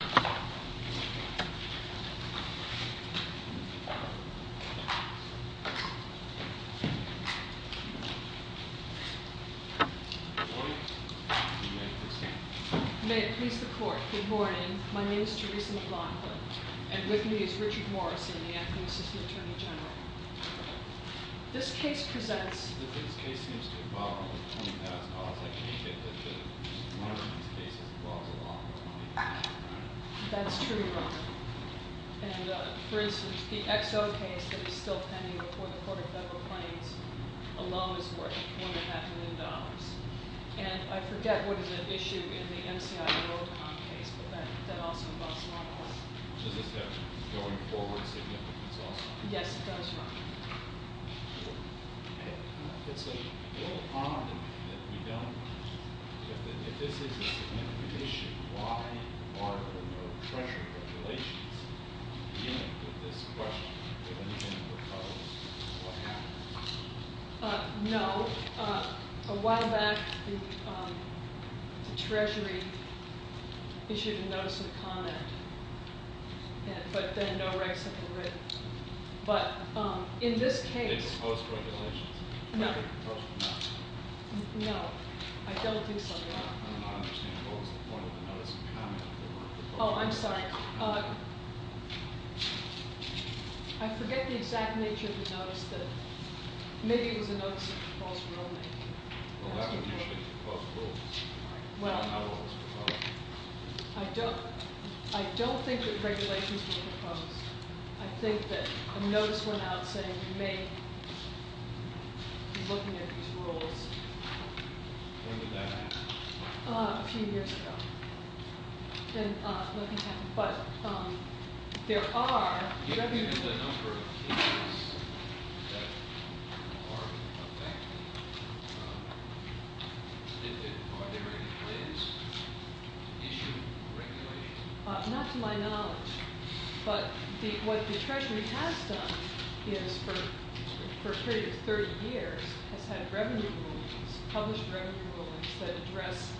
May it please the Court, good morning, my name is Teresa McLaughlin and with me is Richard Morrison, the Acting Assistant Attorney General. This case presents This case seems to involve a lot of money. That's true, Your Honor. And for instance, the XO case that is still pending before the Court of Federal Claims alone is worth $4.5 million. And I forget what is at issue in the MCI Roadcom case, but that also involves a lot of money. Does this have going forward significance also? Yes, it does, Your Honor. It's a little common that we don't, that this is a significant issue. Why are there no Treasury regulations beginning with this question? No, a while back the Treasury issued a notice of comment, but then no rights have been written. But in this case... Did they propose regulations? No, I don't think so, Your Honor. I'm not understanding, what was the point of the notice of comment? Oh, I'm sorry. I forget the exact nature of the notice. Maybe it was a notice of proposed rulemaking. Well, that would usually be proposed rules. Well, I don't think that regulations were proposed. I think that a notice went out saying you may be looking at these rules. When did that happen? A few years ago. Then nothing happened. But there are... Given the number of cases that are affecting, are there any plans to issue regulations? Not to my knowledge, but what the Treasury has done is, for a period of 30 years, has had revenue rulings, published revenue rulings, that address...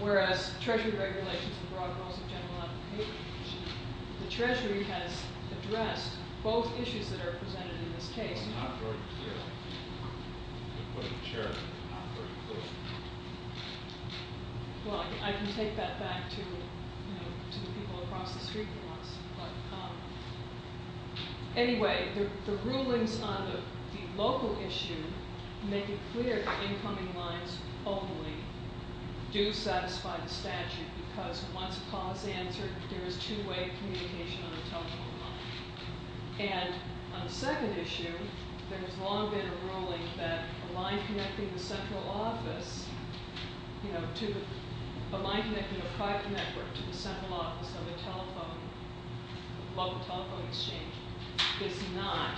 Whereas Treasury regulations have broad goals of general application, the Treasury has addressed both issues that are presented in this case. It's not very clear. They put it in the chair, but it's not very clear. Well, I can take that back to, you know, to the people across the street who want to... Anyway, the rulings on the local issue make it clear that incoming lines only do satisfy the statute, because once a clause is answered, there is two-way communication on the telephone line. And on the second issue, there has long been a ruling that a line connecting the central office, you know, to... A line connecting a private network to the central office of a telephone, local telephone exchange, is not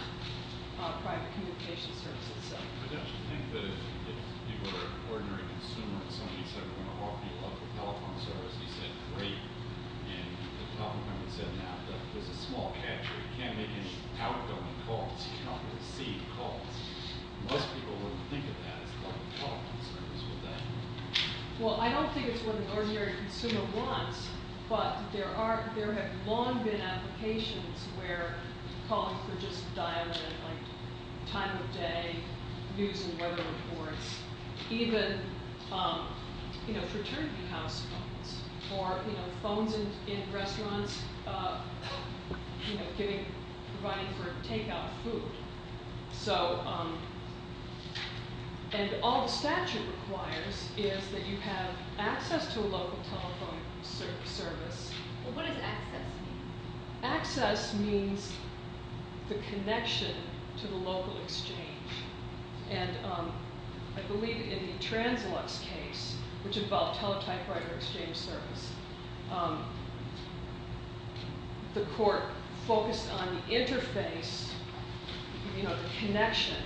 a private communication service itself. I don't think that if you were an ordinary consumer and somebody said, we're going to offer you a telephone service, and you said, great, and the telephone company said, no, there's a small catcher. You can't make any outgoing calls. You can't really see calls. Most people wouldn't think of that as a telephone service, would they? Well, I don't think it's what an ordinary consumer wants, but there are... There have long been applications where calling for just a dial-in, like time of day, news and weather reports, even, you know, fraternity house calls, or, you know, phones in restaurants, you know, providing for takeout food. So, and all the statute requires is that you have access to a local telephone service. Well, what does access mean? Access means the connection to the local exchange. And I believe in the Translux case, which involved teletype writer exchange service, the court focused on the interface, you know, the connection.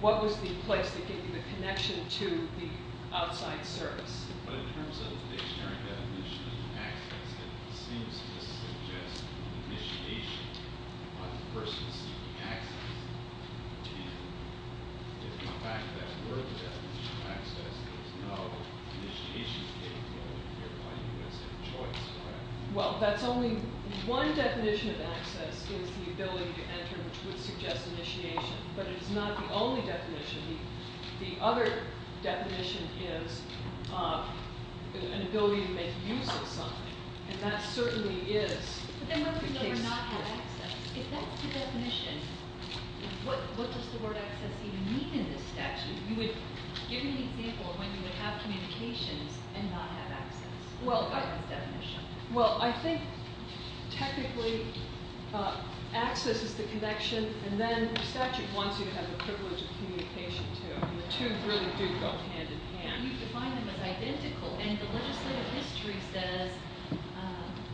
What was the place that gave you the connection to the outside service? But in terms of the dictionary definition of access, it seems to suggest initiation versus access. And in fact, that word definition of access is no initiation capability. You're calling it a choice, correct? Well, that's only... One definition of access is the ability to enter, which would suggest initiation. But it's not the only definition. The other definition is an ability to make use of something. And that certainly is... But then what if you never not have access? If that's the definition, what does the word access even mean in this statute? You would, give me an example of when you would have communications and not have access. Well, I... That's the definition. Well, I think technically access is the connection. And then the statute wants you to have the privilege of communication, too. And the two really do go hand in hand. You define them as identical. And the legislative history says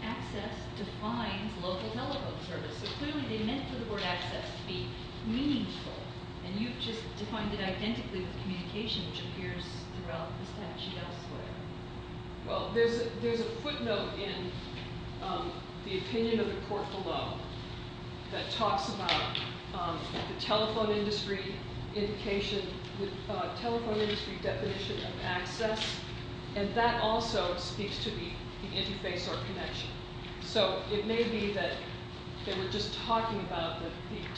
access defines local telephone service. So clearly they meant for the word access to be meaningful. And you've just defined it identically with communication, which appears throughout the statute elsewhere. Well, there's a footnote in the opinion of the court below that talks about the telephone industry indication, the telephone industry definition of access. And that also speaks to the interface or connection. So it may be that they were just talking about the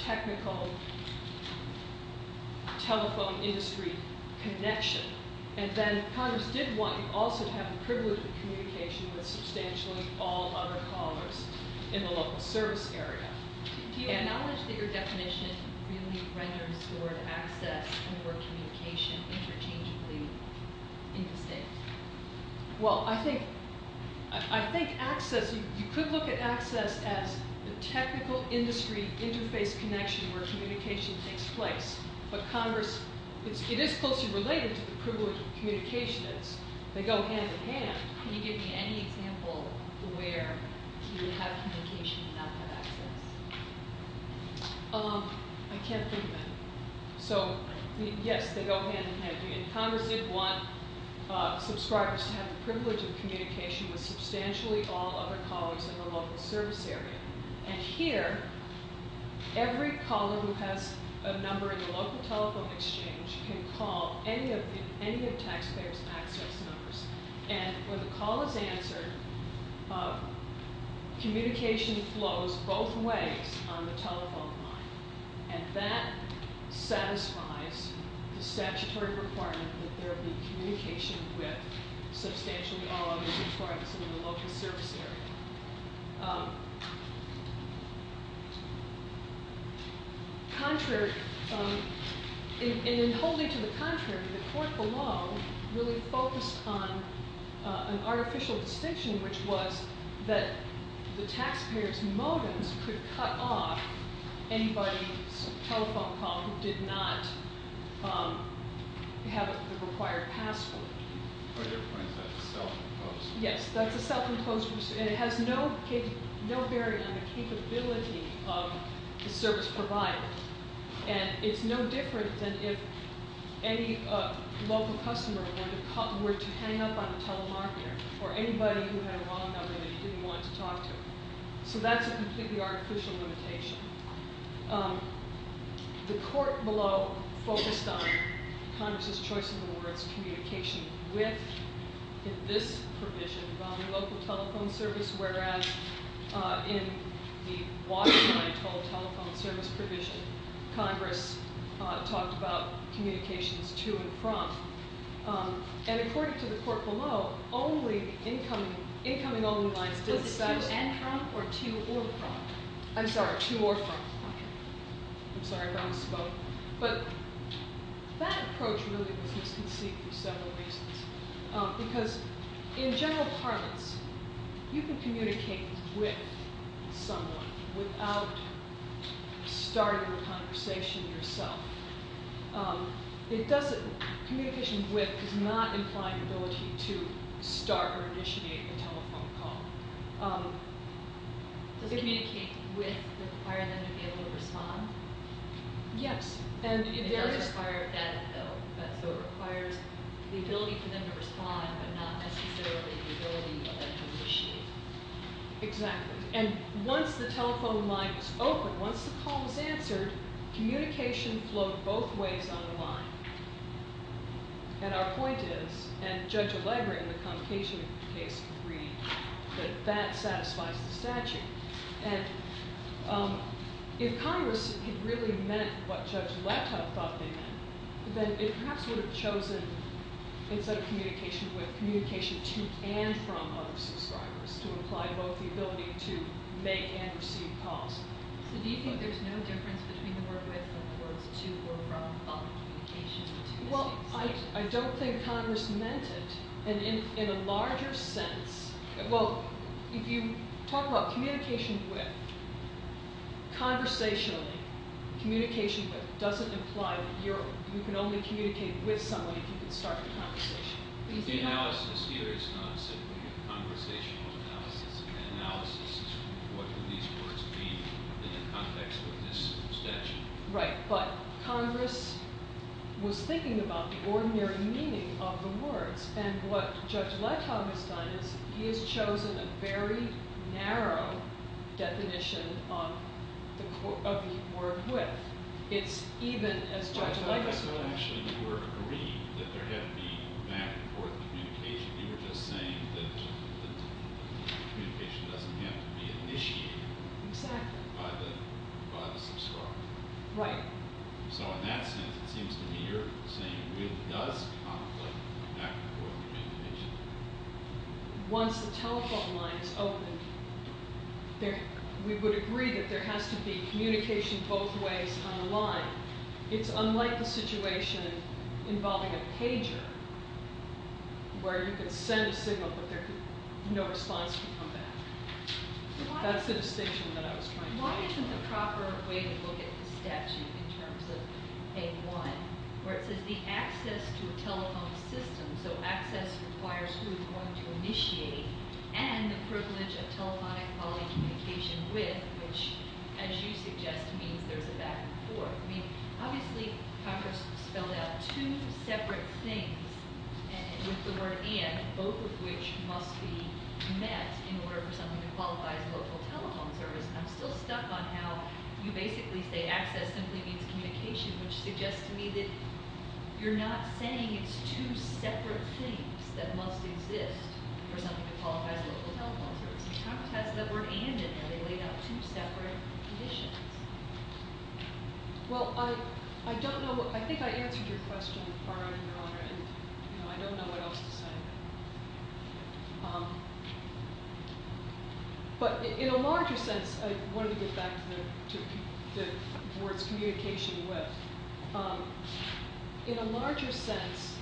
technical telephone industry connection. And then Congress did want you also to have the privilege of communication with substantially all other callers in the local service area. Do you acknowledge that your definition really renders the word access and the word communication interchangeably in the state? Well, I think access, you could look at access as the technical industry interface connection where communication takes place. But Congress, it is closely related to the privilege of communications. They go hand in hand. Can you give me any example where you have communication and not have access? I can't think of any. So, yes, they go hand in hand. Congress did want subscribers to have the privilege of communication with substantially all other callers in the local service area. And here, every caller who has a number in the local telephone exchange can call any of the taxpayers' access numbers. And when the call is answered, communication flows both ways on the telephone line. And that satisfies the statutory requirement that there be communication with substantially all other departments in the local service area. In holding to the contrary, the court below really focused on an artificial distinction, which was that the taxpayers' modems could cut off anybody's telephone call who did not have the required password. Yes, that's a self-imposed restriction. It has no bearing on the capability of the service provider. And it's no different than if any local customer were to hang up on a telemarketer or anybody who had a wrong number that he didn't want to talk to. So that's a completely artificial limitation. The court below focused on Congress' choice of the words, communication with, in this provision, the local telephone service, whereas in the waterline toll telephone service provision, Congress talked about communications to and from. And according to the court below, only incoming only lines. Was it to and from or to or from? I'm sorry, to or from. I'm sorry, I don't want to spoke. But that approach really was misconceived for several reasons. Because in general parlance, you can communicate with someone without starting the conversation yourself. Communication with does not imply the ability to start or initiate a telephone call. Does communicate with require them to be able to respond? Yes. It does require that though. So it requires the ability for them to respond but not necessarily the ability for them to initiate. Exactly. And once the telephone line was open, once the call was answered, communication flowed both ways on the line. And our point is, and Judge Allegra in the Convocation case agreed, that that satisfies the statute. And if Congress had really meant what Judge Leto thought they meant, then it perhaps would have chosen, instead of communication with, communication to and from other subscribers to imply both the ability to make and receive calls. So do you think there's no difference between the word with and the words to or from? Well, I don't think Congress meant it in a larger sense. Well, if you talk about communication with, conversationally, communication with doesn't imply that you can only communicate with someone if you can start the conversation. The analysis here is not simply a conversational analysis. An analysis is what would these words mean in the context of this statute. Right. But Congress was thinking about the ordinary meaning of the words. And what Judge Leto has done is he has chosen a very narrow definition of the word with. Actually, you were agreeing that there had to be back and forth communication. You were just saying that communication doesn't have to be initiated by the subscriber. Right. So in that sense, it seems to me you're saying with does conflict back and forth communication. Once the telephone line is open, we would agree that there has to be communication both ways on the line. It's unlike the situation involving a pager where you can send a signal, but no response can come back. That's the distinction that I was trying to make. Why isn't the proper way to look at the statute in terms of a one where it says the access to a telephone system, so access requires who is going to initiate, and the privilege of telephonic quality communication with, which, as you suggest, means there's a back and forth. I mean, obviously, Congress spelled out two separate things with the word and, both of which must be met in order for something to qualify as a local telephone service. And I'm still stuck on how you basically say access simply means communication, which suggests to me that you're not saying it's two separate things that must exist for something to qualify as a local telephone service. Congress has the word and in there. They laid out two separate conditions. Well, I don't know. I think I answered your question, Your Honor, and I don't know what else to say. But in a larger sense, I wanted to get back to the words communication with. In a larger sense,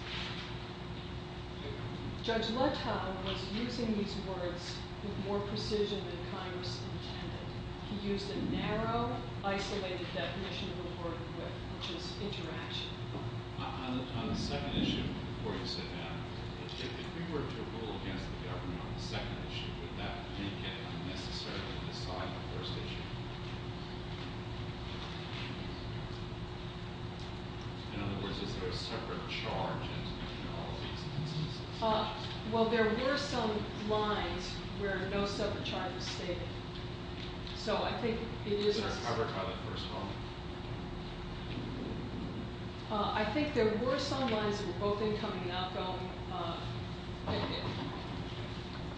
Judge Luttage was using these words with more precision than Congress intended. He used a narrow, isolated definition of the word with, which is interaction. On the second issue before you said that, if we were to rule against the government on the second issue, would that make it unnecessary to decide on the first issue? In other words, is there a separate charge in all of these instances? Well, there were some lines where no separate charge was stated. So I think it is necessary. I think there were some lines that were both incoming and outgoing.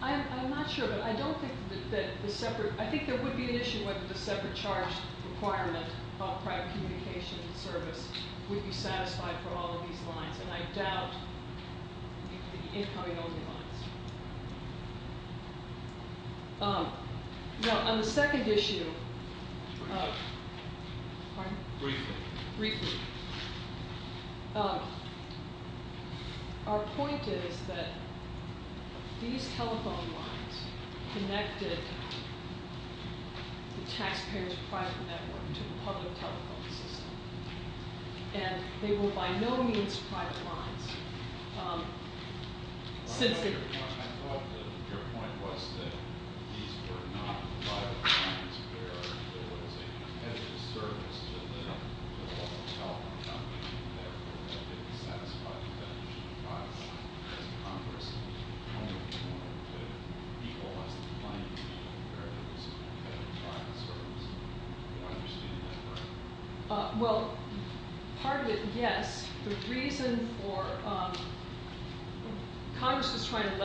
I'm not sure, but I don't think that the separate I think there would be an issue with the separate charge requirement of private communication and service would be satisfied for all of these lines. And I doubt the incoming only lines. On the second issue, our point is that these telephone lines connected the taxpayer's private network to the public telephone system. And they were by no means private lines. I thought that your point was that these were not private lines where there was a competitive service to the public telephone company. And therefore, they didn't satisfy the definition of private. As Congress only wanted to re-laws the line to be a competitive private service. Do you understand that? Well, part of it, yes. Congress was trying to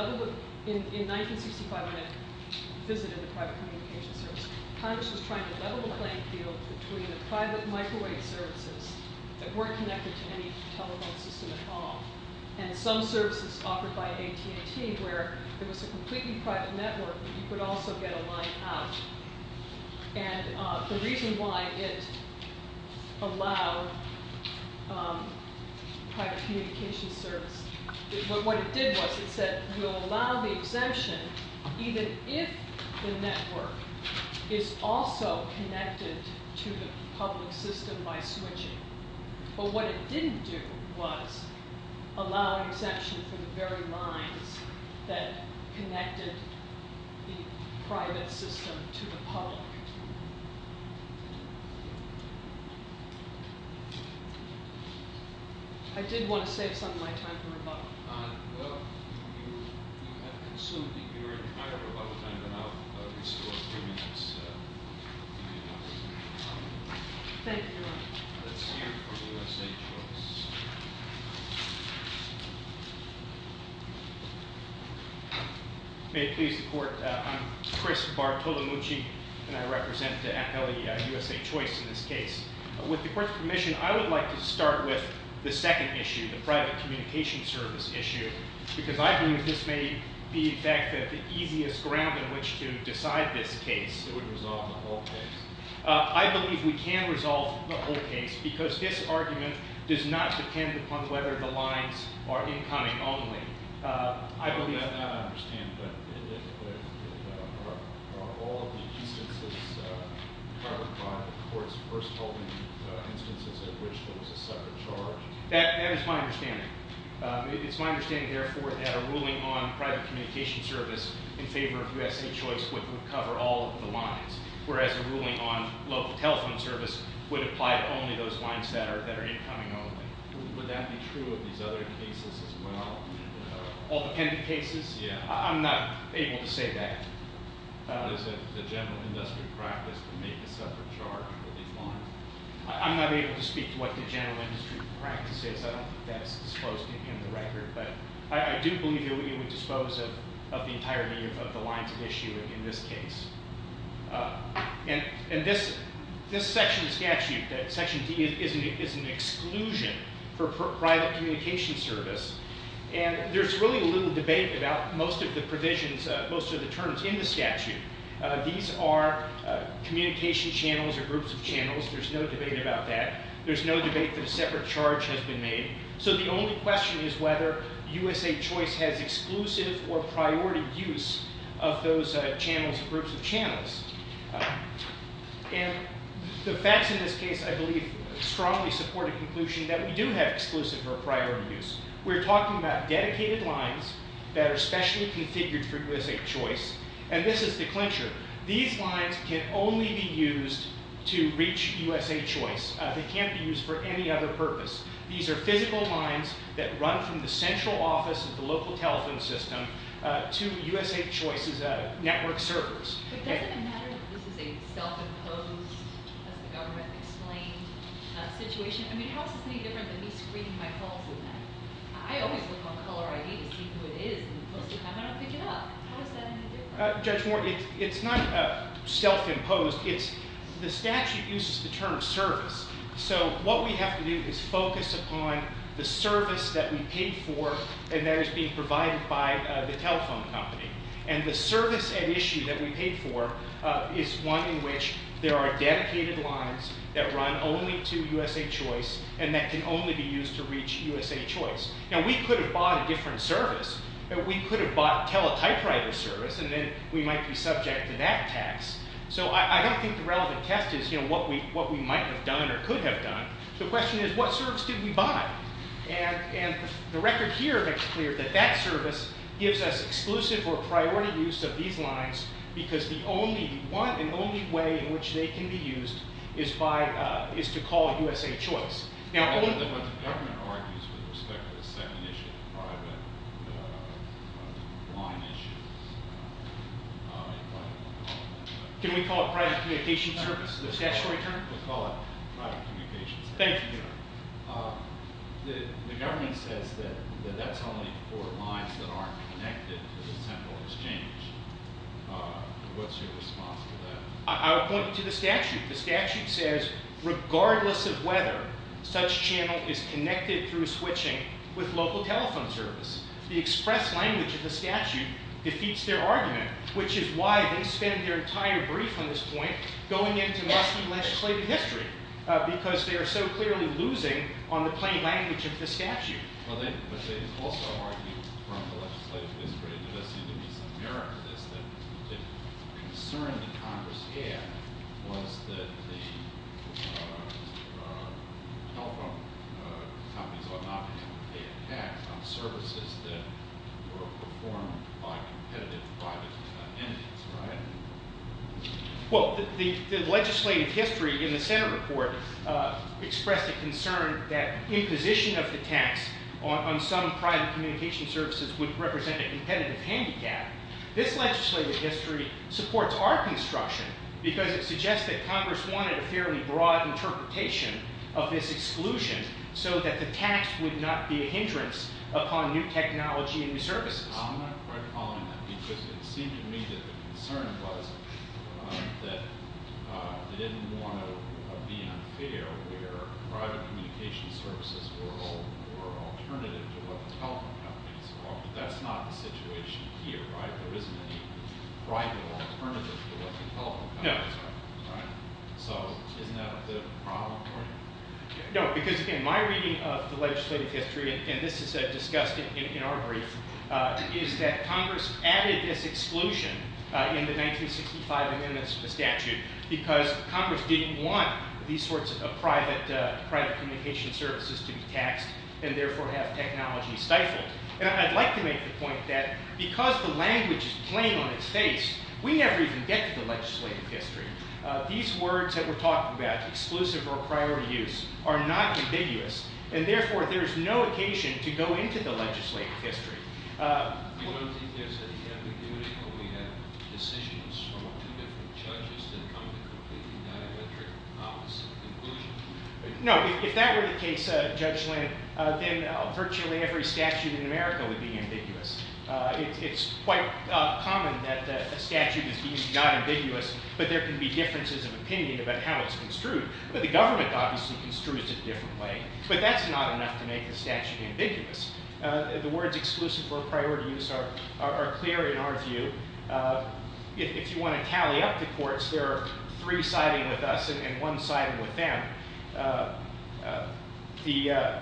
level the playing field between the private microwave services that weren't connected to any telephone system at all. And some services offered by AT&T where there was a completely private network, but you could also get a line out. And the reason why it allowed private communication service, what it did was it said we'll allow the exemption even if the network is also connected to the public system by switching. But what it didn't do was allow exemption for the very lines that connected the private system to the public. I did want to save some of my time for rebuttal. Well, you have consumed your entire rebuttal time, but I'll restore a few minutes. Thank you. Let's hear from USA Choice. May it please the Court, I'm Chris Bartolomucci, and I represent the USA Choice in this case. With the Court's permission, I would like to start with the second issue, the private communication service issue. Because I believe this may be, in fact, the easiest ground in which to decide this case. It would resolve the whole case. I believe we can resolve the whole case because this argument does not depend upon whether the lines are incoming only. That is my understanding. It's my understanding, therefore, that a ruling on private communication service in favor of USA Choice would cover all of the lines. Whereas a ruling on local telephone service would apply to only those lines that are incoming only. Would that be true of these other cases as well? All the pending cases? Yeah. I'm not able to say that. Is it the general industry practice to make a separate charge for these lines? I'm not able to speak to what the general industry practice is. I don't think that's disclosed in the record. But I do believe that we would dispose of the entirety of the lines of issue in this case. And this section of the statute, Section D, is an exclusion for private communication service. And there's really little debate about most of the provisions, most of the terms in the statute. These are communication channels or groups of channels. There's no debate about that. There's no debate that a separate charge has been made. So the only question is whether USA Choice has exclusive or priority use of those channels or groups of channels. And the facts in this case, I believe, strongly support a conclusion that we do have exclusive or priority use. We're talking about dedicated lines that are specially configured for USA Choice. And this is the clincher. These lines can only be used to reach USA Choice. They can't be used for any other purpose. These are physical lines that run from the central office of the local telephone system to USA Choice's network servers. But doesn't it matter that this is a self-imposed, as the government explained, situation? I mean, how is this any different than me screening my calls in there? I always look on Caller ID to see who it is, and most of the time I don't pick it up. How is that any different? Judge Moore, it's not self-imposed. The statute uses the term service. So what we have to do is focus upon the service that we paid for and that is being provided by the telephone company. And the service at issue that we paid for is one in which there are dedicated lines that run only to USA Choice and that can only be used to reach USA Choice. Now, we could have bought a different service. We could have bought teletypewriter service, and then we might be subject to that tax. So I don't think the relevant test is what we might have done or could have done. The question is, what service did we buy? And the record here makes it clear that that service gives us exclusive or priority use of these lines because the only one and only way in which they can be used is to call USA Choice. Now, what the government argues with respect to the second issue of private line issues. Can we call it private communication service, the statutory term? We'll call it private communication service. Thank you. The government says that that's only for lines that aren't connected to the central exchange. What's your response to that? I'll point you to the statute. The statute says, regardless of whether such channel is connected through switching with local telephone service, the express language of the statute defeats their argument, which is why they spend their entire brief on this point going into Muslim legislative history because they are so clearly losing on the plain language of the statute. But they also argued from the legislative history, and there does seem to be some merit to this, that the concern that Congress had was that the telephone companies ought not be able to pay a tax on services that were performed by competitive private entities, right? Well, the legislative history in the Senate report expressed a concern that imposition of the tax on some private communication services would represent a competitive handicap. This legislative history supports our construction because it suggests that Congress wanted a fairly broad interpretation of this exclusion so that the tax would not be a hindrance upon new technology and new services. I'm not quite following that because it seemed to me that the concern was that they didn't want to be unfair where private communication services were alternative to what the telephone companies were. But that's not the situation here, right? There isn't any private alternative to what the telephone companies are. No. Right? So isn't that a bit of a problem for you? No, because again, my reading of the legislative history, and this is discussed in our brief, is that Congress added this exclusion in the 1965 amendments to the statute because Congress didn't want these sorts of private communication services to be taxed and therefore have technology stifled. And I'd like to make the point that because the language is plain on its face, we never even get to the legislative history. These words that we're talking about, exclusive or priority use, are not ambiguous. And therefore, there's no occasion to go into the legislative history. You don't think there's any ambiguity when we have decisions from two different judges that come to a completely diametric opposite conclusion? No. If that were the case, Judge Lind, then virtually every statute in America would be ambiguous. It's quite common that a statute is being not ambiguous, but there can be differences of opinion about how it's construed. But the government obviously construes it a different way. But that's not enough to make the statute ambiguous. The words exclusive or priority use are clear in our view. If you want to tally up the courts, there are three siding with us and one siding with them. The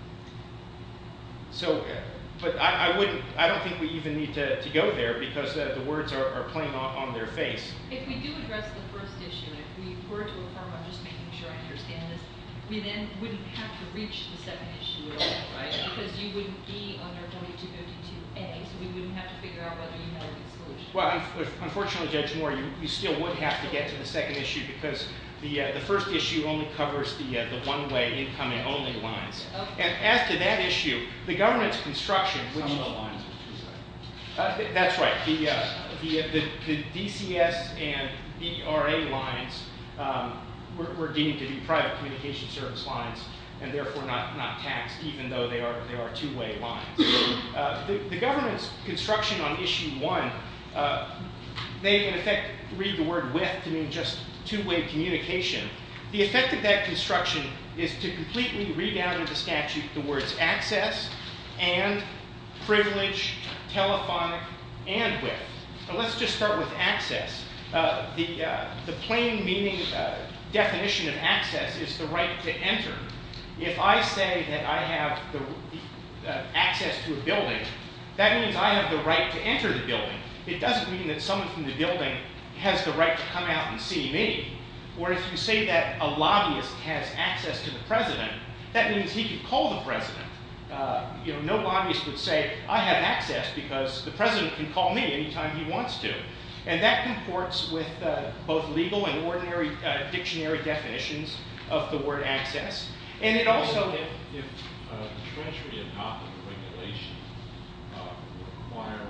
– so – but I wouldn't – I don't think we even need to go there because the words are plain on their face. If we do address the first issue, if we were to affirm – I'm just making sure I understand this – we then wouldn't have to reach the second issue at all, right? Because you wouldn't be under W252A, so we wouldn't have to figure out whether you had an exclusion. Well, unfortunately, Judge Moore, you still would have to get to the second issue because the first issue only covers the one-way incoming only lines. And as to that issue, the government's construction – Some of the lines are two-way. That's right. The DCS and DRA lines were deemed to be private communication service lines and therefore not taxed even though they are two-way lines. The government's construction on issue one, they in effect read the word with to mean just two-way communication. The effect of that construction is to completely redound in the statute the words access, and, privilege, telephonic, and with. And let's just start with access. The plain meaning definition of access is the right to enter. If I say that I have access to a building, that means I have the right to enter the building. It doesn't mean that someone from the building has the right to come out and see me. Or if you say that a lobbyist has access to the president, that means he can call the president. No lobbyist would say, I have access because the president can call me anytime he wants to. And that comports with both legal and ordinary dictionary definitions of the word access. And it also – If the treasury adopted a regulation requiring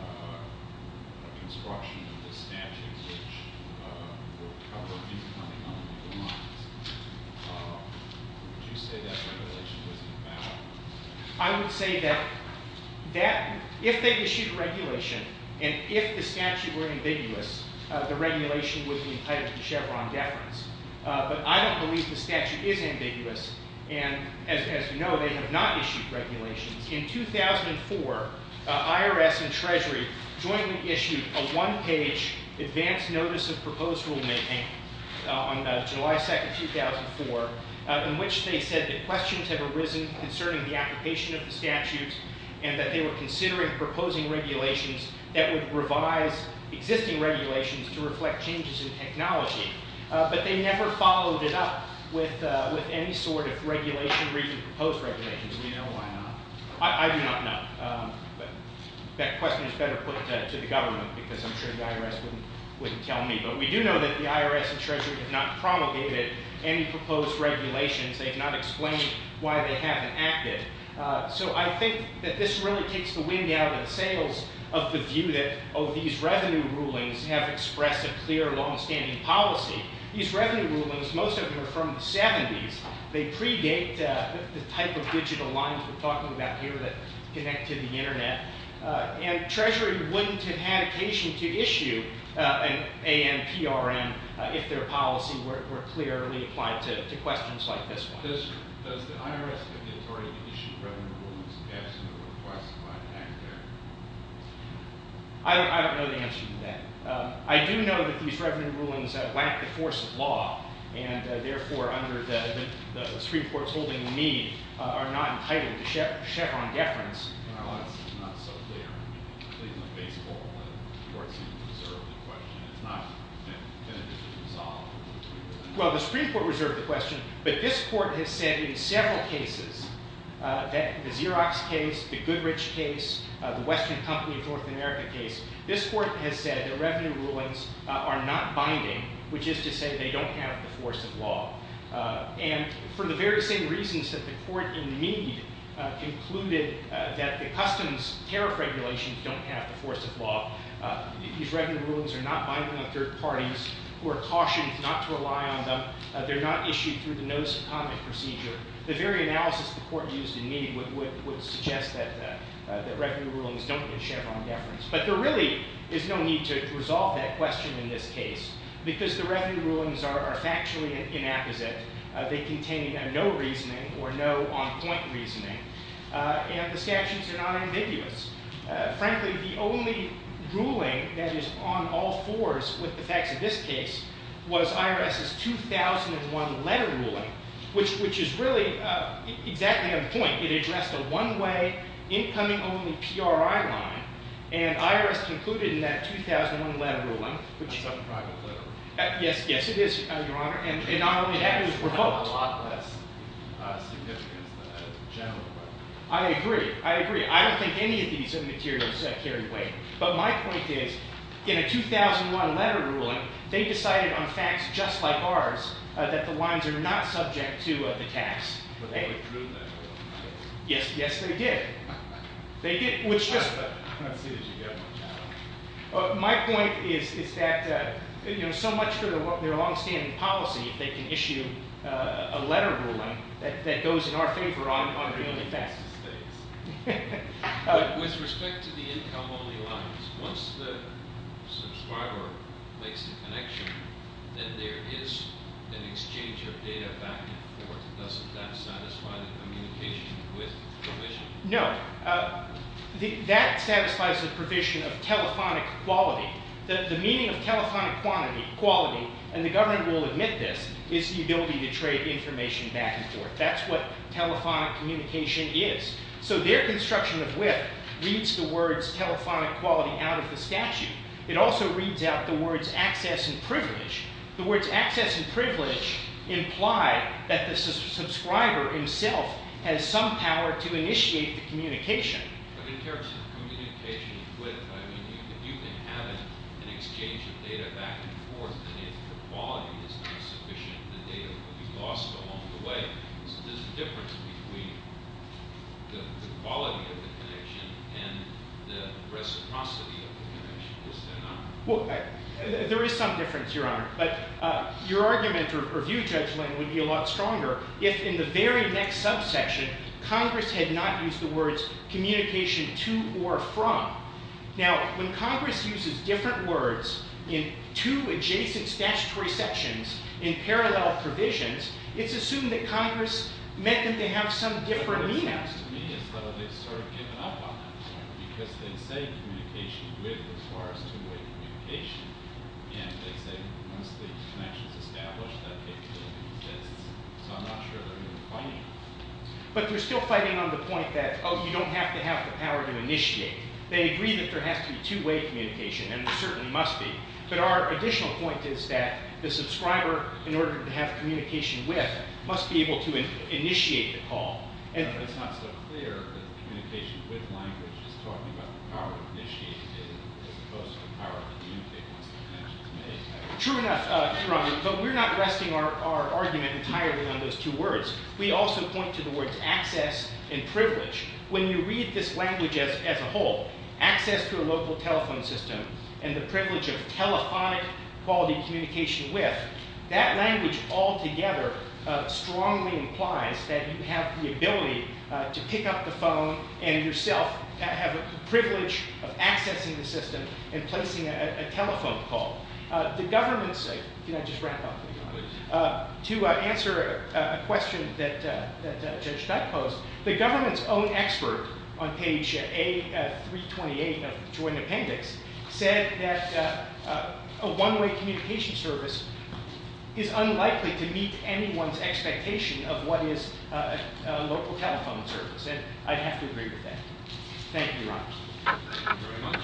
a construction of the statute which would cover new funding on legal lines, would you say that regulation was invalid? I would say that if they issued a regulation and if the statute were ambiguous, the regulation would be entitled to Chevron deference. But I don't believe the statute is ambiguous. And as you know, they have not issued regulations. In 2004, IRS and Treasury jointly issued a one-page advance notice of proposed rulemaking on July 2nd, 2004, in which they said that questions have arisen concerning the application of the statute and that they were considering proposing regulations that would revise existing regulations to reflect changes in technology. But they never followed it up with any sort of regulation – proposed regulations. Do you know why not? I do not know. But that question is better put to the government because I'm sure the IRS wouldn't tell me. But we do know that the IRS and Treasury have not promulgated any proposed regulations. They have not explained why they haven't acted. So I think that this really takes the wind out of the sails of the view that, oh, these revenue rulings have expressed a clear, longstanding policy. These revenue rulings, most of them are from the 70s. They predate the type of digital lines we're talking about here that connect to the Internet. And Treasury wouldn't have had occasion to issue an ANPRM if their policy were clearly applied to questions like this one. Does the IRS have the authority to issue revenue rulings passing a more classified act there? I don't know the answer to that. I do know that these revenue rulings lack the force of law and, therefore, under the Supreme Court's holding, we need – are not entitled to Chevron deference. Well, that's not so clear. I mean, at least in the baseball court, the court seemed to reserve the question. It's not been resolved. Well, the Supreme Court reserved the question, but this court has said in several cases, the Xerox case, the Goodrich case, the Western Company of North America case, this court has said the revenue rulings are not binding, which is to say they don't have the force of law. And for the very same reasons that the court in Meade concluded that the customs tariff regulations don't have the force of law, these revenue rulings are not binding on third parties who are cautioned not to rely on them. They're not issued through the notice of comment procedure. The very analysis the court used in Meade would suggest that revenue rulings don't get Chevron deference. But there really is no need to resolve that question in this case because the revenue rulings are factually inapposite. They contain no reasoning or no on-point reasoning. And the statutes are not ambiguous. Frankly, the only ruling that is on all fours with the facts of this case was IRS's 2001 letter ruling, which is really exactly on point. It addressed a one-way, incoming-only PRI line. And IRS concluded in that 2001 letter ruling, which – That's not a private letter. Yes, yes, it is, Your Honor. And not only that, it was revoked. It has a lot less significance than a general letter. I agree. I agree. Not many of these materials carry weight. But my point is, in a 2001 letter ruling, they decided on facts just like ours that the wines are not subject to the tax. But they withdrew that rule, right? Yes, yes, they did. They did, which just – I don't see that you got much out of it. My point is that so much for their longstanding policy if they can issue a letter ruling that goes in our favor on really fast. With respect to the income-only lines, once the subscriber makes the connection, then there is an exchange of data back and forth. Doesn't that satisfy the communication with the provision? No. That satisfies the provision of telephonic quality. The meaning of telephonic quality – and the government will admit this – is the ability to trade information back and forth. That's what telephonic communication is. So their construction of WIF reads the words telephonic quality out of the statute. It also reads out the words access and privilege. The words access and privilege imply that the subscriber himself has some power to initiate the communication. But in terms of communication with, I mean, you can have an exchange of data back and forth. And if the quality is not sufficient, the data will be lost along the way. So there's a difference between the quality of the connection and the reciprocity of the connection. Is there not? Well, there is some difference, Your Honor. But your argument or view, Judge Lang, would be a lot stronger if, in the very next subsection, Congress had not used the words communication to or from. Now, when Congress uses different words in two adjacent statutory sections in parallel provisions, it's assumed that Congress meant that they have some different meaning. What happens to me is that they've sort of given up on that. Because they say communication with as far as two-way communication, and they say once the connection is established, that capability exists. So I'm not sure they're even fighting it. But they're still fighting on the point that, oh, you don't have to have the power to initiate. They agree that there has to be two-way communication, and there certainly must be. But our additional point is that the subscriber, in order to have communication with, must be able to initiate the call. True enough, Your Honor. But we're not resting our argument entirely on those two words. We also point to the words access and privilege. When you read this language as a whole, access to a local telephone system and the privilege of telephonic quality communication with, that language altogether strongly implies that you have the ability to pick up the phone and yourself have the privilege of accessing the system and placing a telephone call. The government's – can I just wrap up, Your Honor? To answer a question that Judge Steck posed, the government's own expert on page A328 of the Joint Appendix said that a one-way communication service is unlikely to meet anyone's expectation of what is a local telephone service. And I'd have to agree with that. Thank you, Your Honor. Thank you very much.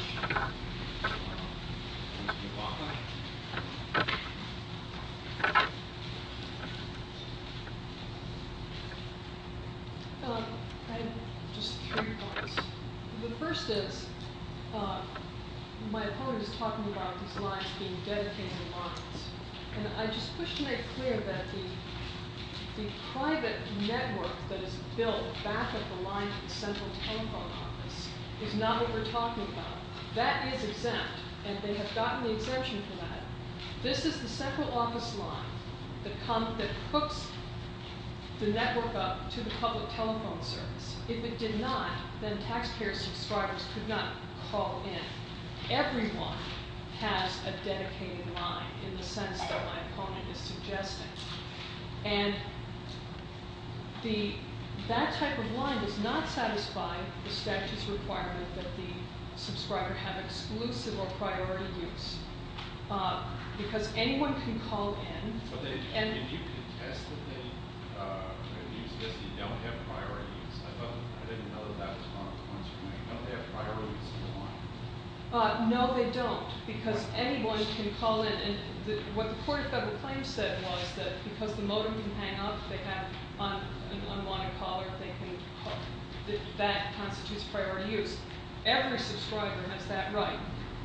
That is exempt, and they have gotten the exemption for that. This is the central office line that hooks the network up to the public telephone service. If it did not, then taxpayer subscribers could not call in. Everyone has a dedicated line in the sense that my opponent is suggesting. And the – that type of line does not satisfy the statute's requirement that the subscriber have exclusive or priority use because anyone can call in. But they – and you can attest that they have used this. They don't have priority use. I thought – I didn't know that that was part of the question. They don't have priority use in the line. No, they don't because anyone can call in. And what the Court of Federal Claims said was that because the motor can hang up if they have an unwanted caller, they can hook. That constitutes priority use. Every subscriber has that right.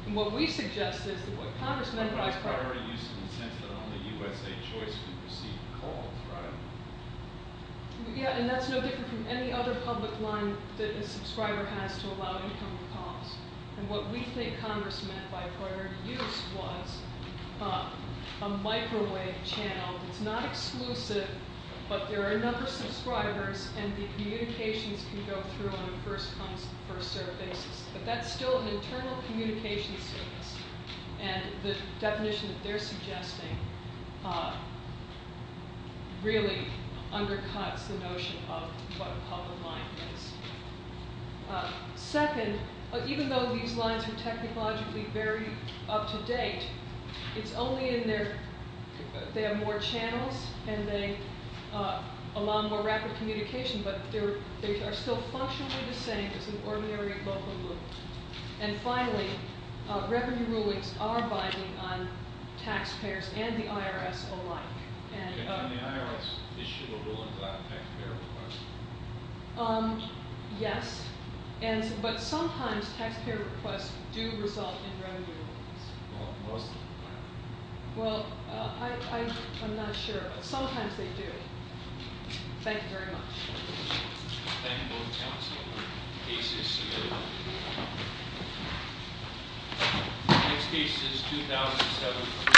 And what we suggest is that what Congress meant by priority use in the sense that only USA Choice can receive calls, right? Yeah, and that's no different from any other public line that a subscriber has to allow incoming calls. And what we think Congress meant by priority use was a microwave channel. It's not exclusive, but there are a number of subscribers, and the communications can go through on a first-come, first-served basis. But that's still an internal communications service. And the definition that they're suggesting really undercuts the notion of what a public line is. Second, even though these lines are technologically very up-to-date, it's only in their – they have more channels, and they allow more rapid communication, but they are still functionally the same as an ordinary local loop. And finally, revenue rulings are binding on taxpayers and the IRS alike. And can the IRS issue a ruling without a taxpayer request? Yes, but sometimes taxpayer requests do result in revenue rulings. Well, most of the time. Well, I'm not sure, but sometimes they do. Thank you very much. Thank you both counsel. Case is submitted. Next case is 2007.